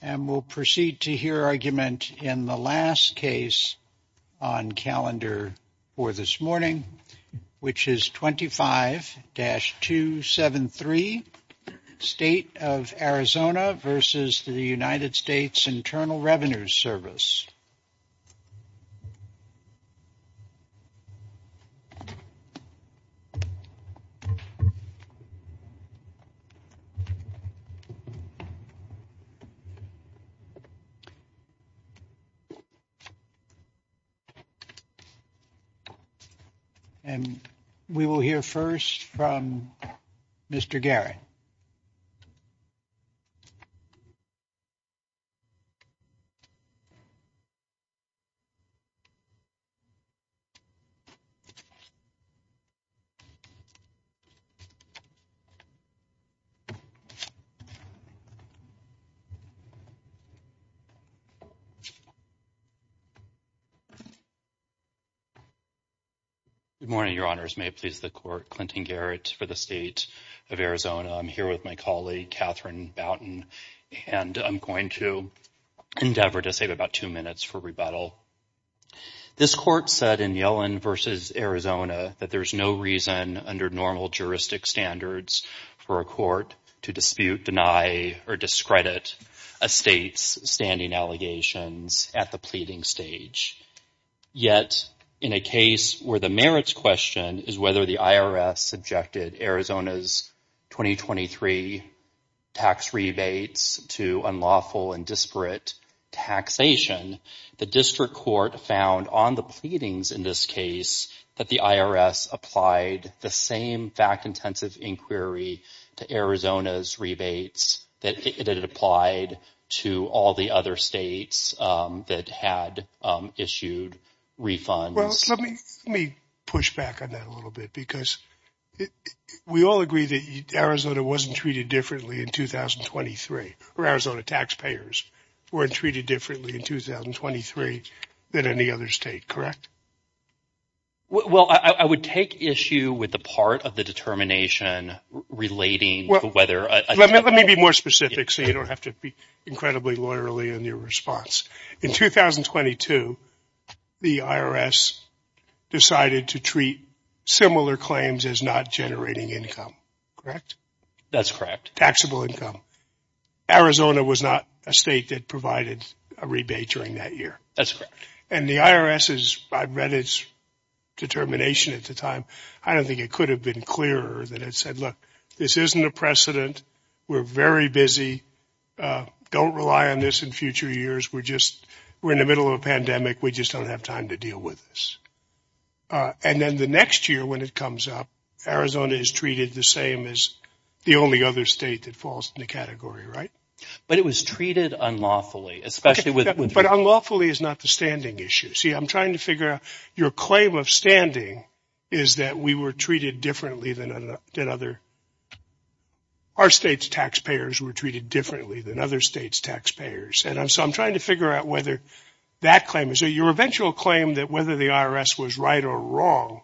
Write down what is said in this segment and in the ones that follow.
And we'll proceed to hear argument in the last case on calendar for this morning, which is 25-273, State of Arizona v. United States Internal Revenue Service. And we will hear first from Mr. Garrett. Good morning, Your Honors. May it please the Court, Clinton Garrett for the State of Arizona. I'm here with my colleague, Katherine Boutin, and I'm going to endeavor to save about two minutes for rebuttal. This Court said in Yellen v. Arizona that there's no reason under normal juristic standards for a court to dispute, deny, or discredit a state's standing allegations at the pleading stage. Yet, in a case where the merits question is whether the IRS subjected Arizona's 2023 tax rebates to unlawful and disparate taxation, the district court found on the pleadings in this case that the IRS applied the same fact-intensive inquiry to Arizona's rebates that it had applied to all the other states that had issued refunds. Let me push back on that a little bit because we all agree that Arizona wasn't treated differently in 2023 or Arizona taxpayers weren't treated differently in 2023 than any other state, correct? Well, I would take issue with the part of the determination relating to whether – Let me be more specific so you don't have to be incredibly lawyerly in your response. In 2022, the IRS decided to treat similar claims as not generating income, correct? That's correct. Taxable income. Arizona was not a state that provided a rebate during that year. That's correct. And the IRS's – I read its determination at the time. I don't think it could have been clearer than it said, look, this isn't a precedent. We're very busy. Don't rely on this in future years. We're just – we're in the middle of a pandemic. We just don't have time to deal with this. And then the next year when it comes up, Arizona is treated the same as the only other state that falls in the category, right? But it was treated unlawfully, especially with – But unlawfully is not the standing issue. See, I'm trying to figure out – your claim of standing is that we were treated differently than other – our state's taxpayers were treated differently than other states' taxpayers. And so I'm trying to figure out whether that claim – so your eventual claim that whether the IRS was right or wrong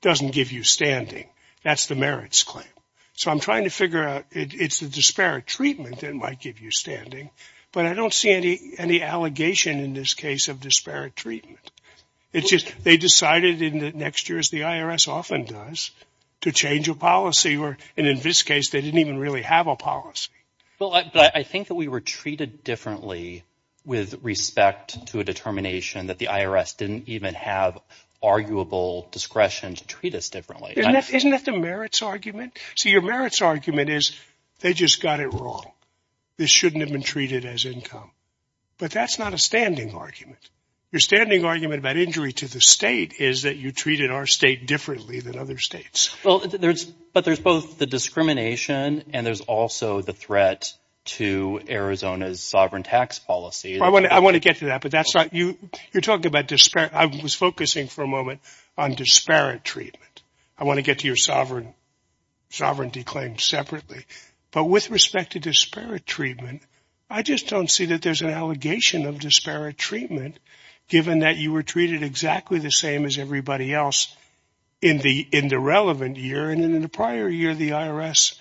doesn't give you standing. That's the merits claim. So I'm trying to figure out – it's the disparate treatment that might give you standing. But I don't see any allegation in this case of disparate treatment. It's just they decided in the next year, as the IRS often does, to change a policy. And in this case, they didn't even really have a policy. But I think that we were treated differently with respect to a determination that the IRS didn't even have arguable discretion to treat us differently. Isn't that the merits argument? See, your merits argument is they just got it wrong. This shouldn't have been treated as income. But that's not a standing argument. Your standing argument about injury to the state is that you treated our state differently than other states. Well, but there's both the discrimination and there's also the threat to Arizona's sovereign tax policy. I want to get to that, but that's not – you're talking about – I was focusing for a moment on disparate treatment. I want to get to your sovereignty claim separately. But with respect to disparate treatment, I just don't see that there's an allegation of disparate treatment given that you were treated exactly the same as everybody else in the relevant year. And in the prior year, the IRS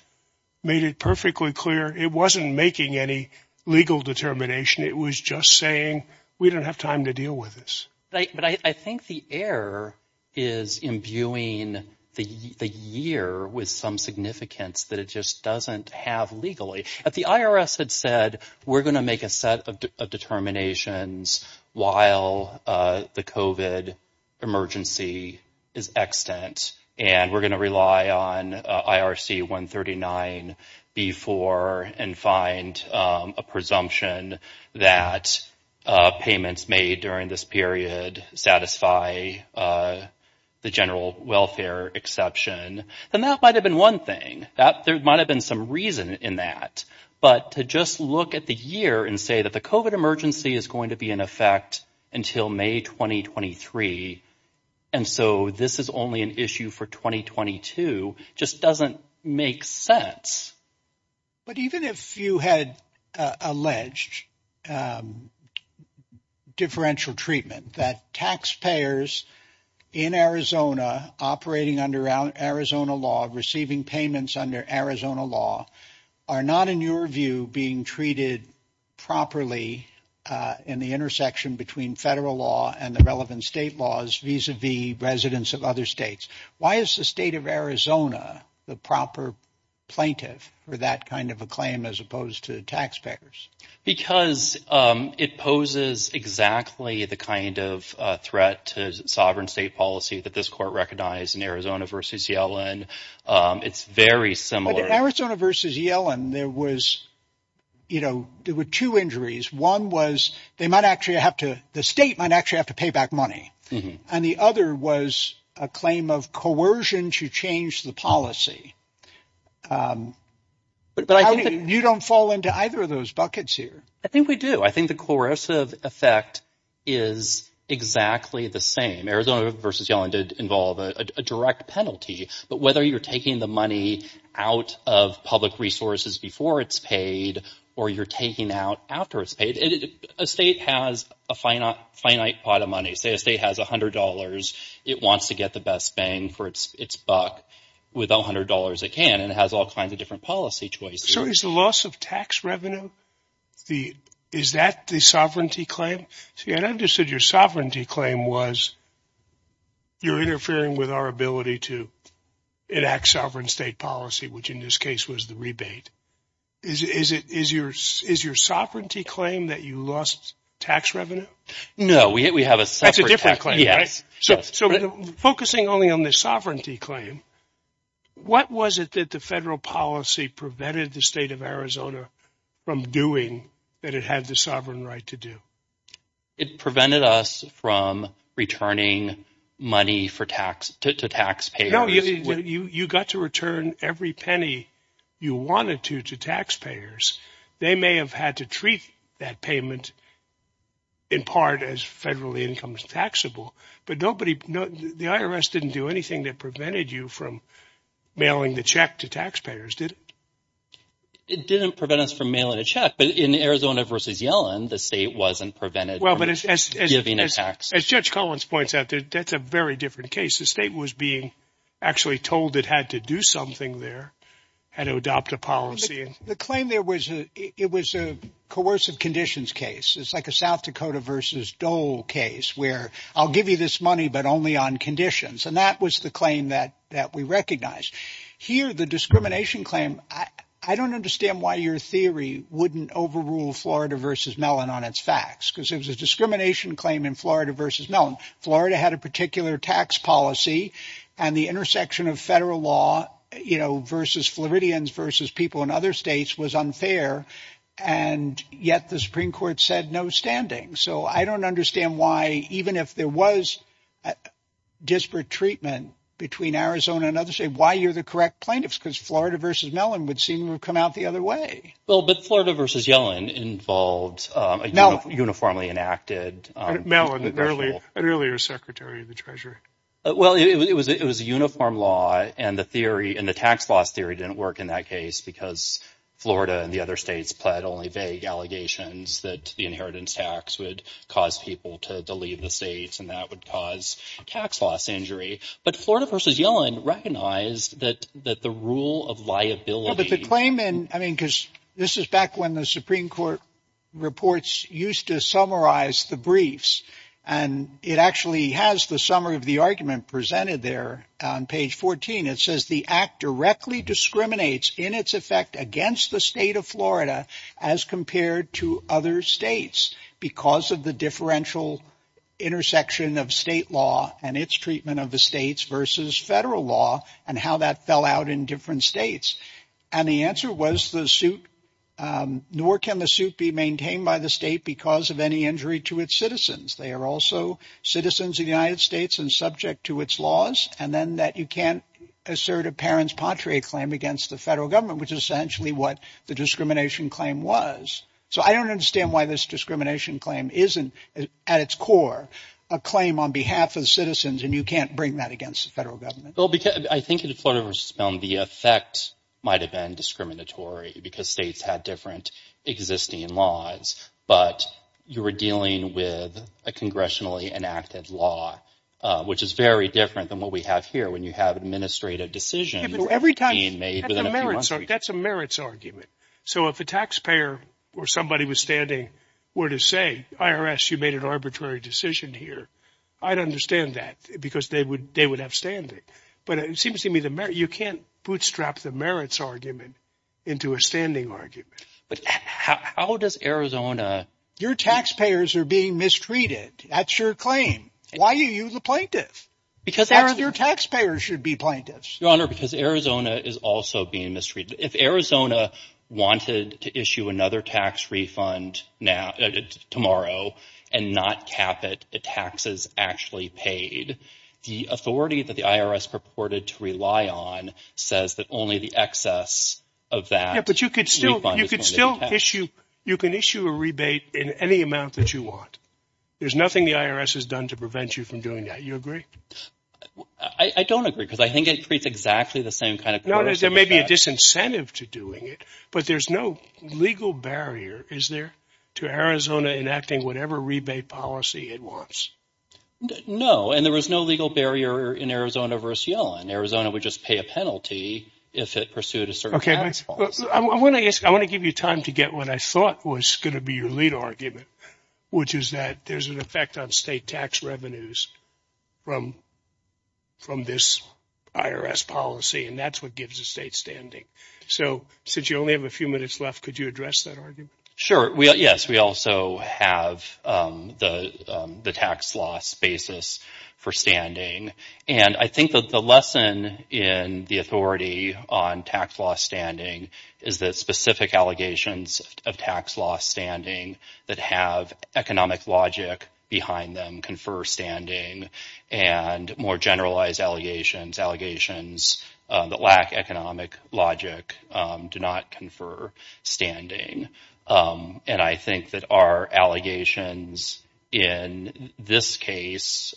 made it perfectly clear it wasn't making any legal determination. It was just saying we don't have time to deal with this. But I think the error is imbuing the year with some significance that it just doesn't have legally. The IRS had said we're going to make a set of determinations while the COVID emergency is extant. And we're going to rely on IRC 139B4 and find a presumption that payments made during this period satisfy the general welfare exception. And that might have been one thing. There might have been some reason in that. But to just look at the year and say that the COVID emergency is going to be in effect until May 2023 and so this is only an issue for 2022 just doesn't make sense. But even if you had alleged differential treatment that taxpayers in Arizona operating under Arizona law receiving payments under Arizona law are not, in your view, being treated properly in the intersection between federal law and the relevant state laws vis-a-vis residents of other states. Why is the state of Arizona the proper plaintiff for that kind of a claim as opposed to the taxpayers? Because it poses exactly the kind of threat to sovereign state policy that this court recognized in Arizona versus Yellen. It's very similar. Arizona versus Yellen. There was you know, there were two injuries. One was they might actually have to the state might actually have to pay back money. And the other was a claim of coercion to change the policy. But you don't fall into either of those buckets here. I think we do. I think the coercive effect is exactly the same. Arizona versus Yellen did involve a direct penalty. But whether you're taking the money out of public resources before it's paid or you're taking out after it's paid, a state has a finite pot of money. Say a state has $100, it wants to get the best bang for its buck with $100 it can. And it has all kinds of different policy choices. So is the loss of tax revenue, is that the sovereignty claim? See, I understood your sovereignty claim was you're interfering with our ability to enact sovereign state policy, which in this case was the rebate. Is your sovereignty claim that you lost tax revenue? No, we have a separate. That's a different claim, right? Yes. So focusing only on the sovereignty claim, what was it that the federal policy prevented the state of Arizona from doing that it had the sovereign right to do? It prevented us from returning money for tax to taxpayers. You got to return every penny you wanted to to taxpayers. They may have had to treat that payment. In part, as federal income is taxable, but nobody the IRS didn't do anything that prevented you from mailing the check to taxpayers, did it? It didn't prevent us from mailing a check. But in Arizona versus Yellen, the state wasn't prevented. Well, but it's giving a tax. As Judge Collins points out, that's a very different case. The state was being actually told it had to do something there, had to adopt a policy. The claim there was it was a coercive conditions case. It's like a South Dakota versus Dole case where I'll give you this money, but only on conditions. And that was the claim that that we recognize here. The discrimination claim. I don't understand why your theory wouldn't overrule Florida versus Mellon on its facts, because it was a discrimination claim in Florida versus Mellon. Florida had a particular tax policy and the intersection of federal law, you know, versus Floridians versus people in other states was unfair. And yet the Supreme Court said no standing. So I don't understand why, even if there was disparate treatment between Arizona and others, why you're the correct plaintiffs, because Florida versus Mellon would seem to come out the other way. Well, but Florida versus Yellen involved now uniformly enacted Mellon, an earlier secretary of the treasury. Well, it was it was a uniform law and the theory and the tax loss theory didn't work in that case because Florida and the other states pled only vague allegations that the inheritance tax would cause people to leave the states and that would cause tax loss injury. But Florida versus Yellen recognized that that the rule of liability. But the claim in I mean, because this is back when the Supreme Court reports used to summarize the briefs and it actually has the summary of the argument presented there on page 14. It says the act directly discriminates in its effect against the state of Florida as compared to other states because of the differential intersection of state law and its treatment of the states versus federal law and how that fell out in different states. And the answer was the suit. Nor can the suit be maintained by the state because of any injury to its citizens. They are also citizens of the United States and subject to its laws. And then that you can't assert a parent's patria claim against the federal government, which is essentially what the discrimination claim was. So I don't understand why this discrimination claim isn't at its core a claim on behalf of citizens. And you can't bring that against the federal government. Well, because I think the effect might have been discriminatory because states had different existing laws. But you were dealing with a congressionally enacted law, which is very different than what we have here. When you have administrative decisions every time you may. So that's a merits argument. So if a taxpayer or somebody was standing were to say IRS, you made an arbitrary decision here. I'd understand that because they would they would have standing. But it seems to me that you can't bootstrap the merits argument into a standing argument. But how does Arizona. Your taxpayers are being mistreated. That's your claim. Why are you the plaintiff? Because your taxpayers should be plaintiffs. Your Honor, because Arizona is also being mistreated. If Arizona wanted to issue another tax refund now tomorrow and not cap it, the taxes actually paid the authority that the IRS purported to rely on says that only the excess of that. But you could still you could still issue. You can issue a rebate in any amount that you want. There's nothing the IRS has done to prevent you from doing that. You agree. I don't agree because I think it creates exactly the same kind of. There may be a disincentive to doing it, but there's no legal barrier. Is there to Arizona enacting whatever rebate policy it wants? No. And there was no legal barrier in Arizona versus Yellen. Arizona would just pay a penalty if it pursued a certain. I want to give you time to get what I thought was going to be your lead argument, which is that there's an effect on state tax revenues from from this IRS policy. And that's what gives the state standing. So since you only have a few minutes left, could you address that argument? Sure. Yes. We also have the tax loss basis for standing. And I think that the lesson in the authority on tax law standing is that specific allegations of tax law standing that have economic logic behind them confer standing and more generalized allegations. Allegations that lack economic logic do not confer standing. And I think that our allegations in this case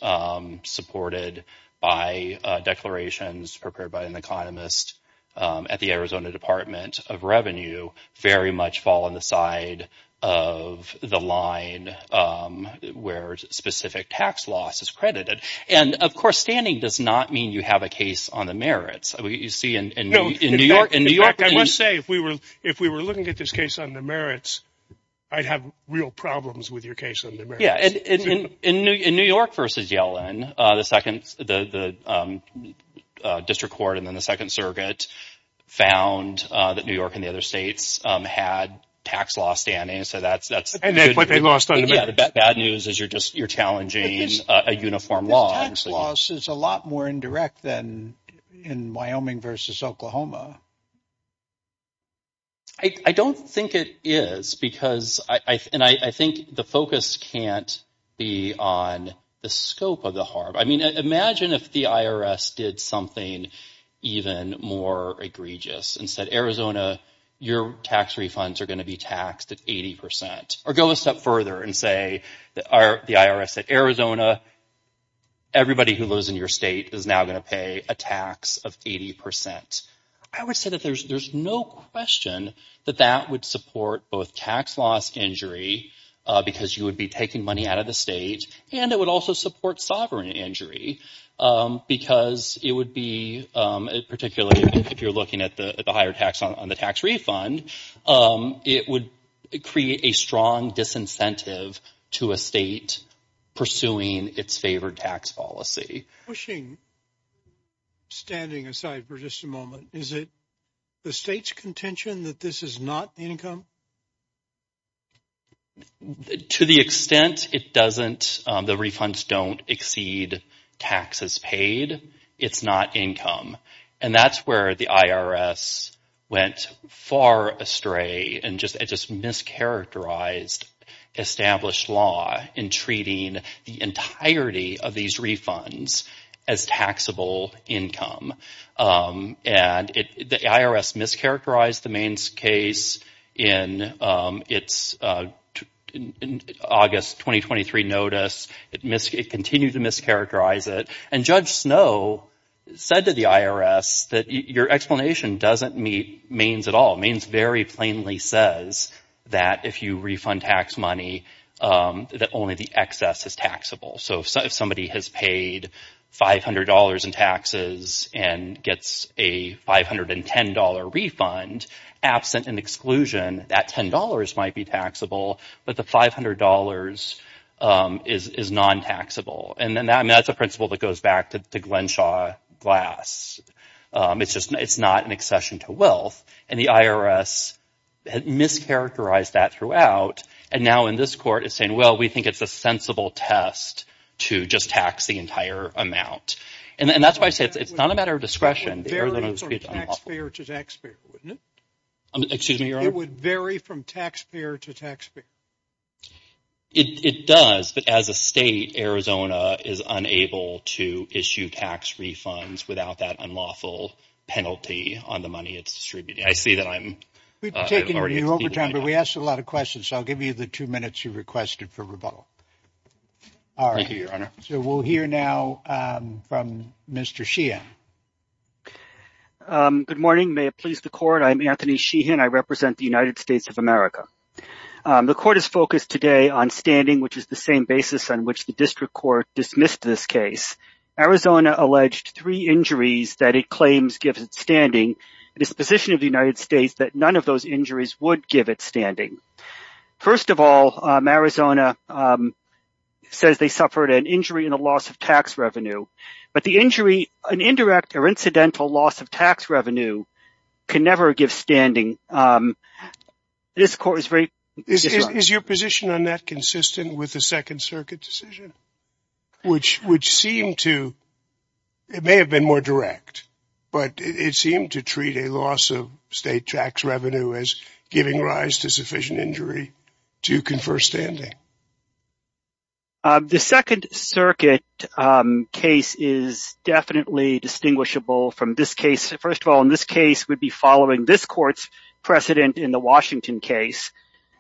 supported by declarations prepared by an economist at the Arizona Department of Revenue very much fall on the side of the line where specific tax loss is credited. And, of course, standing does not mean you have a case on the merits. We see in New York and New York. I must say, if we were if we were looking at this case on the merits, I'd have real problems with your case. Yeah. And in New York versus Yellen, the second the district court and then the Second Circuit found that New York and the other states had tax law standing. So that's that's what they lost. Yeah. The bad news is you're just you're challenging a uniform law. Tax loss is a lot more indirect than in Wyoming versus Oklahoma. I don't think it is because I and I think the focus can't be on the scope of the harm. I mean, imagine if the IRS did something even more egregious and said, Arizona, your tax refunds are going to be taxed at 80 percent or go a step further and say that are the IRS at Arizona. Everybody who lives in your state is now going to pay a tax of 80 percent. I would say that there's there's no question that that would support both tax loss injury because you would be taking money out of the state and it would also support sovereign injury because it would be particularly if you're looking at the higher tax on the tax refund. It would create a strong disincentive to a state pursuing its favored tax policy. Pushing. Standing aside for just a moment, is it the state's contention that this is not income? To the extent it doesn't, the refunds don't exceed taxes paid, it's not income. And that's where the IRS went far astray and just it just mischaracterized established law in treating the entirety of these refunds as taxable income. And the IRS mischaracterized the Maine's case in its August 2023 notice. It continued to mischaracterize it. And Judge Snow said to the IRS that your explanation doesn't meet Maine's at all. Maine's very plainly says that if you refund tax money, that only the excess is taxable. So if somebody has paid five hundred dollars in taxes and gets a five hundred and ten dollar refund absent an exclusion, that ten dollars might be taxable. But the five hundred dollars is non-taxable. And then that's a principle that goes back to the Glenshaw Glass. It's just it's not an accession to wealth. And the IRS mischaracterized that throughout. And now in this court is saying, well, we think it's a sensible test to just tax the entire amount. And that's why I say it's not a matter of discretion. It would vary from taxpayer to taxpayer. It does. But as a state, Arizona is unable to issue tax refunds without that unlawful penalty on the money it's distributed. We've taken you over time, but we asked a lot of questions. I'll give you the two minutes you requested for rebuttal. All right. So we'll hear now from Mr. Sheehan. Good morning. May it please the court. I'm Anthony Sheehan. I represent the United States of America. The court is focused today on standing, which is the same basis on which the district court dismissed this case. Arizona alleged three injuries that it claims gives it standing. It is the position of the United States that none of those injuries would give it standing. First of all, Arizona says they suffered an injury and a loss of tax revenue. But the injury, an indirect or incidental loss of tax revenue can never give standing. This court is very. Is your position on that consistent with the Second Circuit decision, which would seem to. It may have been more direct, but it seemed to treat a loss of state tax revenue as giving rise to sufficient injury to confer standing. The Second Circuit case is definitely distinguishable from this case. First of all, in this case would be following this court's precedent in the Washington case.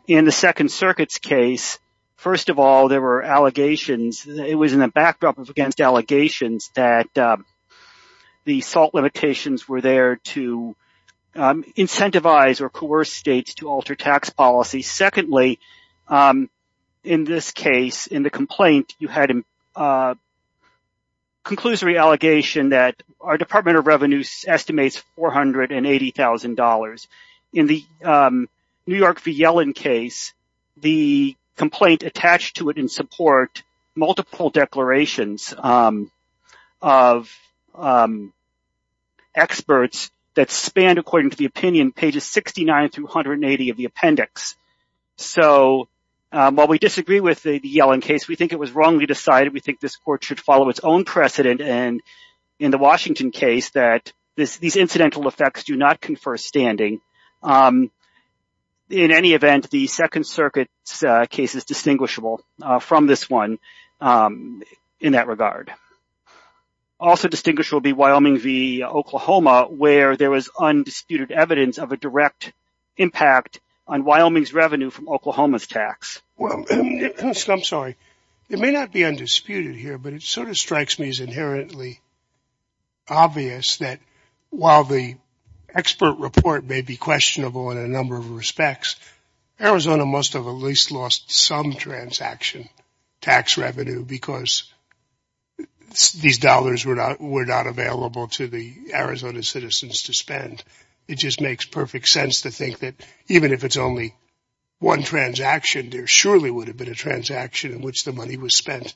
In the Second Circuit's case, first of all, there were allegations. It was in the backdrop of against allegations that the SALT limitations were there to incentivize or coerce states to alter tax policy. Secondly, in this case, in the complaint, you had a conclusory allegation that our Department of Revenue estimates four hundred and eighty thousand dollars. In the New York v. Yellen case, the complaint attached to it in support multiple declarations of experts that spanned, according to the opinion, pages 69 through 180 of the appendix. So while we disagree with the Yellen case, we think it was wrongly decided. We think this court should follow its own precedent. And in the Washington case, that these incidental effects do not confer standing. In any event, the Second Circuit case is distinguishable from this one in that regard. Also distinguished will be Wyoming v. Oklahoma, where there was undisputed evidence of a direct impact on Wyoming's revenue from Oklahoma's tax. Well, I'm sorry. It may not be undisputed here, but it sort of strikes me as inherently obvious that while the expert report may be questionable in a number of respects, Arizona must have at least lost some transaction tax revenue because these dollars were not were not available to the Arizona citizens to spend. It just makes perfect sense to think that even if it's only one transaction, there surely would have been a transaction in which the money was spent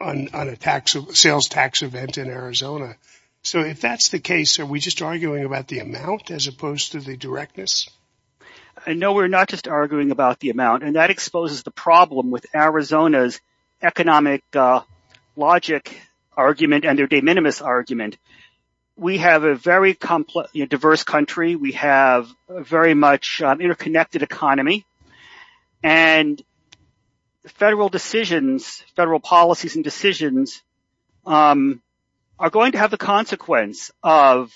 on a sales tax event in Arizona. So if that's the case, are we just arguing about the amount as opposed to the directness? No, we're not just arguing about the amount. And that exposes the problem with Arizona's economic logic argument and their de minimis argument. We have a very diverse country. We have a very much interconnected economy. Federal policies and decisions are going to have the consequence of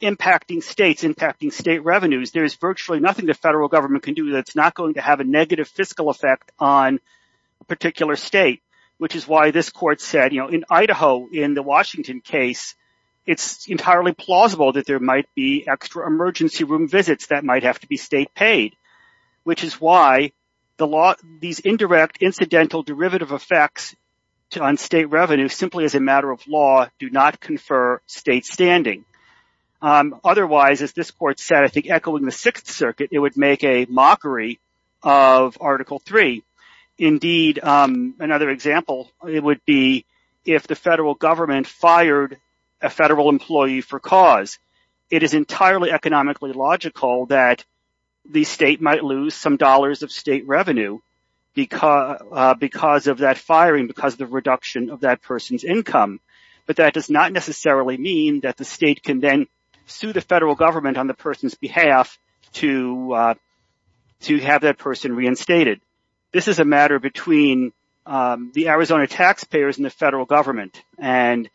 impacting states, impacting state revenues. There's virtually nothing the federal government can do that's not going to have a negative fiscal effect on a particular state, which is why this court said, you know, in Idaho, in the Washington case, it's entirely plausible that there might be extra emergency room visits that might have to be state paid, which is why these indirect incidental derivative effects on state revenue simply as a matter of law do not confer state standing. Otherwise, as this court said, I think echoing the Sixth Circuit, it would make a mockery of Article 3. Indeed, another example would be if the federal government fired a federal employee for cause, it is entirely economically logical that the state might lose some dollars of state revenue because of that firing, because of the reduction of that person's income. But that does not necessarily mean that the state can then sue the federal government on the person's behalf to have that person reinstated. This is a matter between the Arizona taxpayers and the federal government. And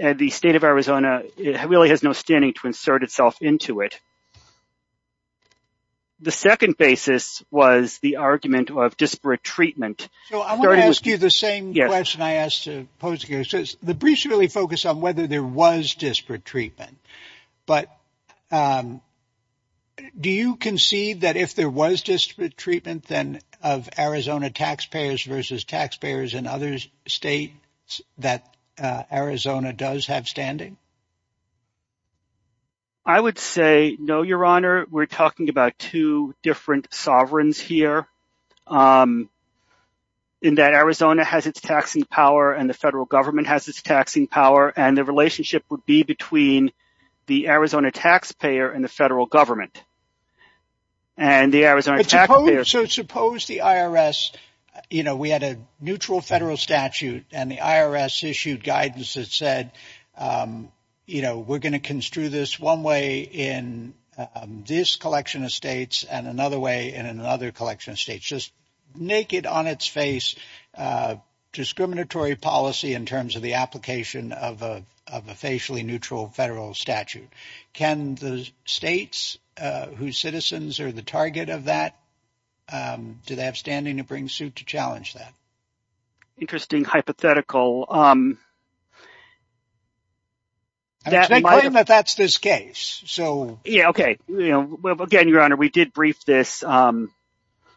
at the state of Arizona, it really has no standing to insert itself into it. The second basis was the argument of disparate treatment. So I'm going to ask you the same question I asked to pose here. The briefs really focus on whether there was disparate treatment, but. Do you concede that if there was disparate treatment, then of Arizona taxpayers versus taxpayers and others state that Arizona does have standing? I would say no, your honor. We're talking about two different sovereigns here. In that Arizona has its taxing power and the federal government has its taxing power, and the relationship would be between the Arizona taxpayer and the federal government. And the Arizona taxpayers. So suppose the IRS. You know, we had a neutral federal statute and the IRS issued guidance that said, you know, we're going to construe this one way in this collection of states and another way in another collection of states, just naked on its face. Discriminatory policy in terms of the application of a of a facially neutral federal statute. Can the states whose citizens are the target of that? Do they have standing to bring suit to challenge that? Interesting hypothetical. That's this case. So, yeah, OK. Well, again, your honor, we did brief this.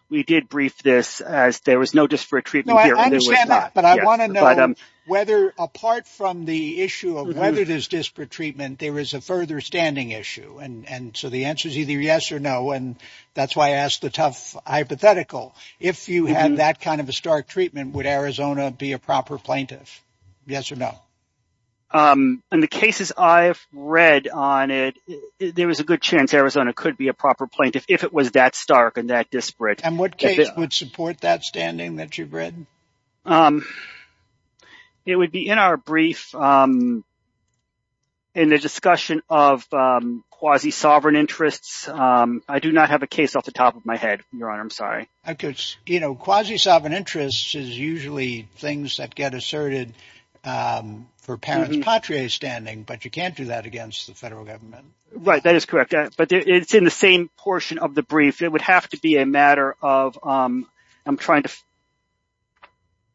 We did brief this as there was no disparate treatment. But I want to know whether apart from the issue of whether it is disparate treatment, there is a further standing issue. And so the answer is either yes or no. And that's why I asked the tough hypothetical. If you had that kind of a stark treatment, would Arizona be a proper plaintiff? Yes or no? And the cases I've read on it, there was a good chance Arizona could be a proper plaintiff if it was that stark and that disparate. And what case would support that standing that you've read? It would be in our brief. In the discussion of quasi sovereign interests, I do not have a case off the top of my head. Your honor, I'm sorry. I guess, you know, quasi sovereign interests is usually things that get asserted for parents. Patria standing. But you can't do that against the federal government. Right. That is correct. But it's in the same portion of the brief. It would have to be a matter of I'm trying to.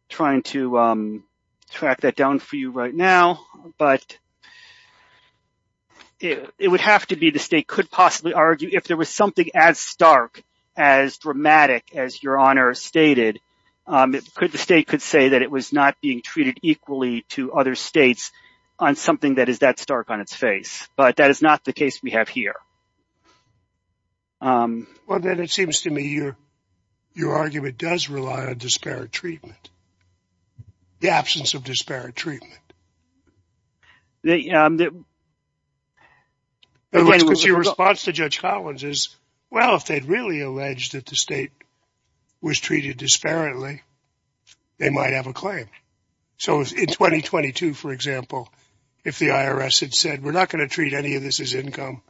Trying to track that down for you right now. But it would have to be the state could possibly argue if there was something as stark, as dramatic as your honor stated. Could the state could say that it was not being treated equally to other states on something that is that stark on its face? But that is not the case we have here. Well, then it seems to me your your argument does rely on disparate treatment. The absence of disparate treatment. The. The way it was your response to Judge Collins is, well, if they'd really alleged that the state was treated disparately, they might have a claim. So in twenty twenty two, for example, if the IRS had said we're not going to treat any of this as income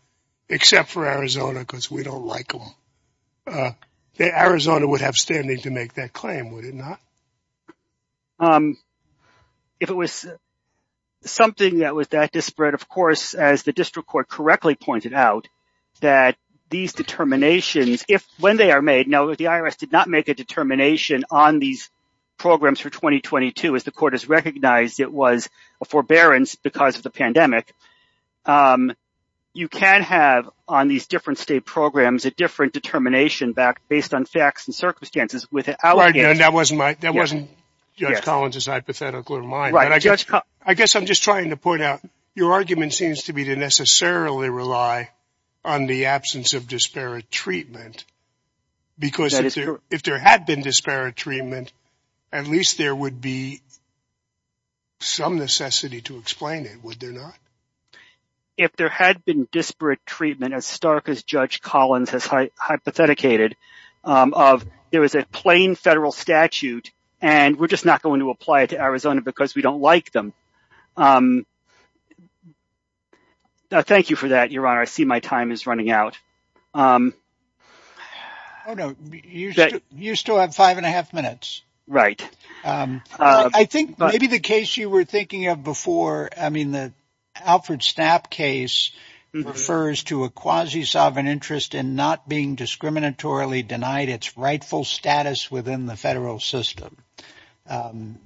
except for Arizona because we don't like them, the Arizona would have standing to make that claim, would it not? If it was something that was that disparate, of course, as the district court correctly pointed out that these determinations, if when they are made now that the IRS did not make a determination on these programs for twenty twenty two, as the court has recognized it was a forbearance because of the pandemic, you can have on these different state programs, a different determination back based on facts and circumstances with it. And that wasn't that wasn't just Collins's hypothetical or mine. I guess I'm just trying to point out your argument seems to be to necessarily rely on the absence of disparate treatment. Because if there had been disparate treatment, at least there would be. Some necessity to explain it, would there not? If there had been disparate treatment as stark as Judge Collins has hypotheticated of, there was a plain federal statute and we're just not going to apply it to Arizona because we don't like them. Thank you for that, your honor. I see my time is running out. Oh, no, you said you still have five and a half minutes, right? I think maybe the case you were thinking of before. I mean, the Alfred Stapp case refers to a quasi sovereign interest in not being discriminatorily denied its rightful status within the federal system.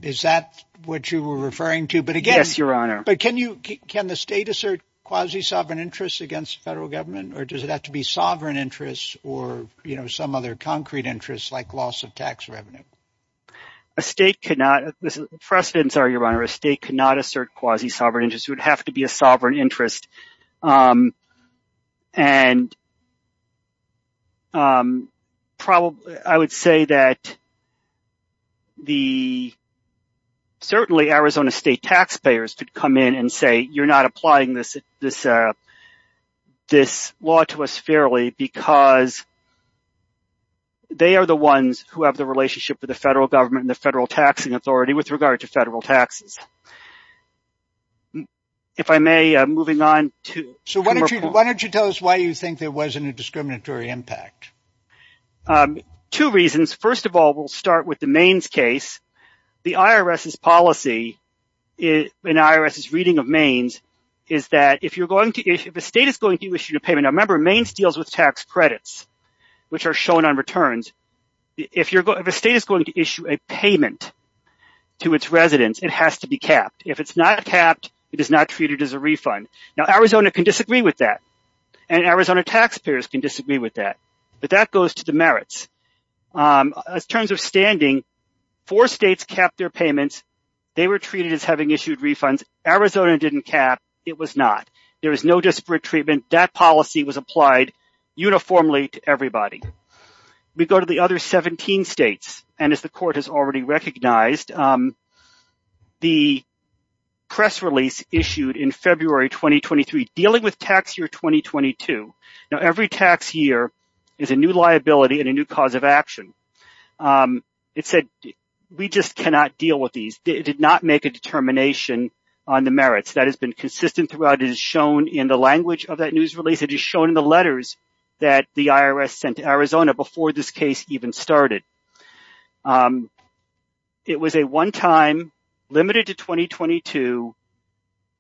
Is that what you were referring to? But again, your honor, but can you can the state assert quasi sovereign interests against the federal government or does it have to be sovereign interests or some other concrete interests like loss of tax revenue? A state cannot. This is precedent, your honor. A state cannot assert quasi sovereign interest. It would have to be a sovereign interest. And. Probably I would say that. The. Certainly, Arizona state taxpayers could come in and say, you're not applying this, this, this law to us fairly because. They are the ones who have the relationship with the federal government, the federal taxing authority with regard to federal taxes. If I may, moving on to. So why don't you why don't you tell us why you think there wasn't a discriminatory impact? Two reasons. First of all, we'll start with the Maine's case. The IRS's policy in IRS's reading of Maine's is that if you're going to if the state is going to issue a payment, remember Maine's deals with tax credits, which are shown on returns. If you're if a state is going to issue a payment to its residents, it has to be capped. If it's not capped, it is not treated as a refund. Now, Arizona can disagree with that. And Arizona taxpayers can disagree with that. But that goes to the merits. In terms of standing, four states capped their payments. They were treated as having issued refunds. Arizona didn't cap. It was not. There is no disparate treatment. That policy was applied uniformly to everybody. We go to the other 17 states. And as the court has already recognized, the press release issued in February 2023 dealing with tax year 2022. Now, every tax year is a new liability and a new cause of action. It said we just cannot deal with these. It did not make a determination on the merits that has been consistent throughout. It is shown in the language of that news release. It is shown in the letters that the IRS sent to Arizona before this case even started. It was a one time limited to 2022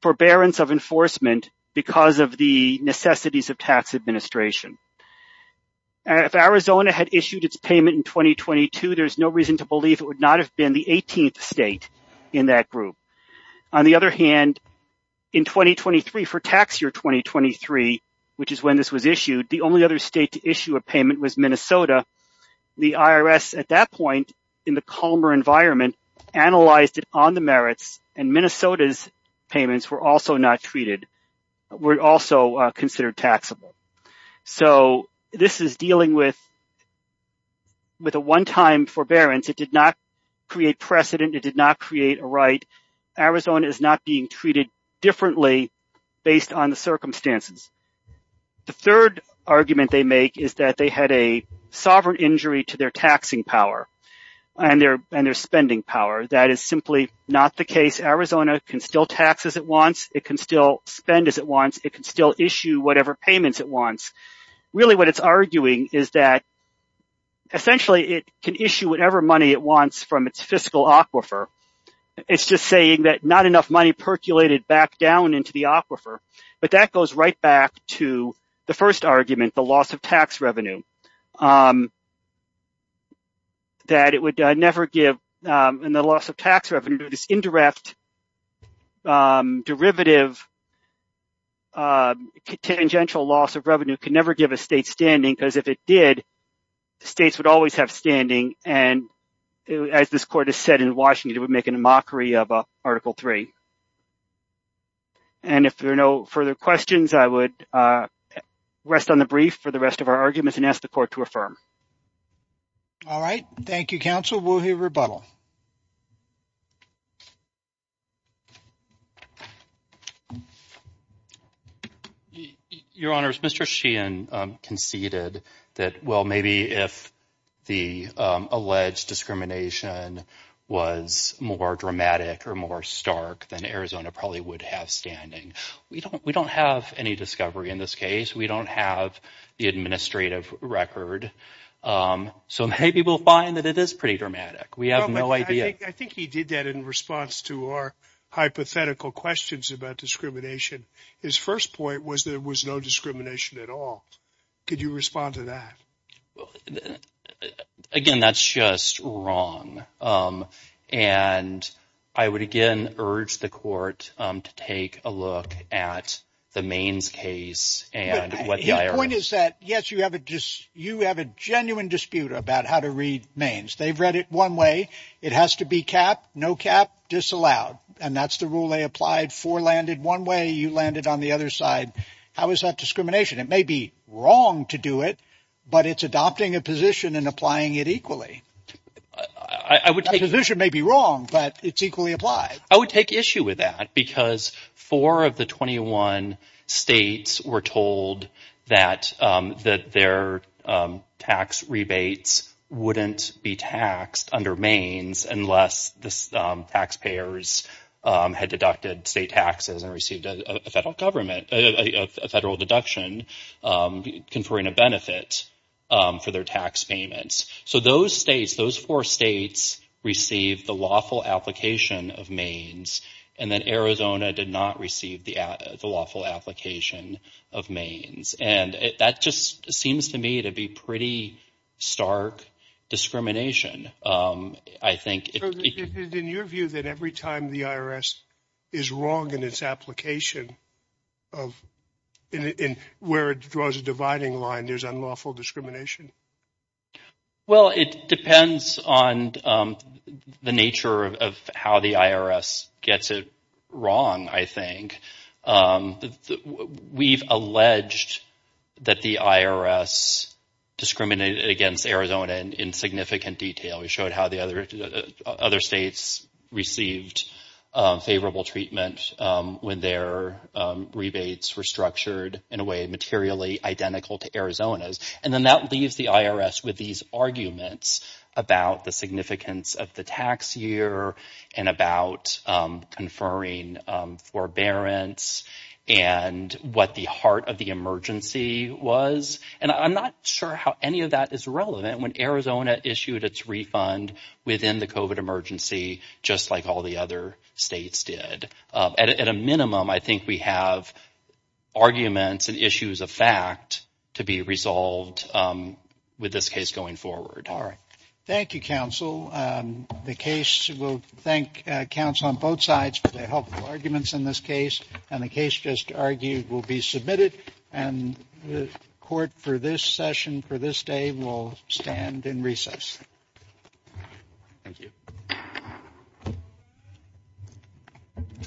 forbearance of enforcement because of the necessities of tax administration. If Arizona had issued its payment in 2022, there's no reason to believe it would not have been the 18th state in that group. On the other hand, in 2023 for tax year 2023, which is when this was issued, the only other state to issue a payment was Minnesota. The IRS at that point in the calmer environment analyzed it on the merits. And Minnesota's payments were also not treated were also considered taxable. So this is dealing with. With a one time forbearance, it did not create precedent. It did not create a right. Arizona is not being treated differently based on the circumstances. The third argument they make is that they had a sovereign injury to their taxing power and their spending power. That is simply not the case. Arizona can still tax as it wants. It can still spend as it wants. It can still issue whatever payments it wants. Really, what it's arguing is that. Essentially, it can issue whatever money it wants from its fiscal aquifer. It's just saying that not enough money percolated back down into the aquifer. But that goes right back to the first argument, the loss of tax revenue. That it would never give in the loss of tax revenue, this indirect derivative. Tangential loss of revenue could never give a state standing because if it did, the states would always have standing. And as this court has said in Washington, it would make a mockery of Article three. And if there are no further questions, I would rest on the brief for the rest of our arguments and ask the court to affirm. All right. Thank you, counsel. We'll hear rebuttal. Your Honor's Mr. Sheehan conceded that, well, maybe if the alleged discrimination was more dramatic or more stark than Arizona probably would have standing. We don't we don't have any discovery in this case. We don't have the administrative record. So maybe we'll find that it is pretty dramatic. We have no idea. I think he did that in response to our hypothetical questions about discrimination. His first point was there was no discrimination at all. Could you respond to that? Again, that's just wrong. And I would again urge the court to take a look at the Maine's case. The point is that, yes, you have a just you have a genuine dispute about how to read Maine's. They've read it one way. It has to be cap, no cap, disallowed. And that's the rule they applied for landed one way. You landed on the other side. How is that discrimination? It may be wrong to do it, but it's adopting a position and applying it equally. I would take a position may be wrong, but it's equally applied. I would take issue with that because four of the 21 states were told that that their tax rebates wouldn't be taxed under Maine's unless the taxpayers had deducted state taxes and received a federal government, a federal deduction conferring a benefit for their tax payments. So those states, those four states received the lawful application of Maine's and then Arizona did not receive the lawful application of Maine's. And that just seems to me to be pretty stark discrimination. I think in your view that every time the IRS is wrong in its application of where it draws a dividing line, there's unlawful discrimination. Well, it depends on the nature of how the IRS gets it wrong, I think. We've alleged that the IRS discriminated against Arizona in significant detail. We showed how the other states received favorable treatment when their rebates were structured in a way materially identical to Arizona's. And then that leaves the IRS with these arguments about the significance of the tax year and about conferring forbearance and what the heart of the emergency was. And I'm not sure how any of that is relevant when Arizona issued its refund within the COVID emergency, just like all the other states did. At a minimum, I think we have arguments and issues of fact to be resolved with this case going forward. All right. Thank you, counsel. The case, we'll thank counsel on both sides for their helpful arguments in this case. And the case just argued will be submitted and the court for this session for this day will stand in recess. Thank you. Thank you.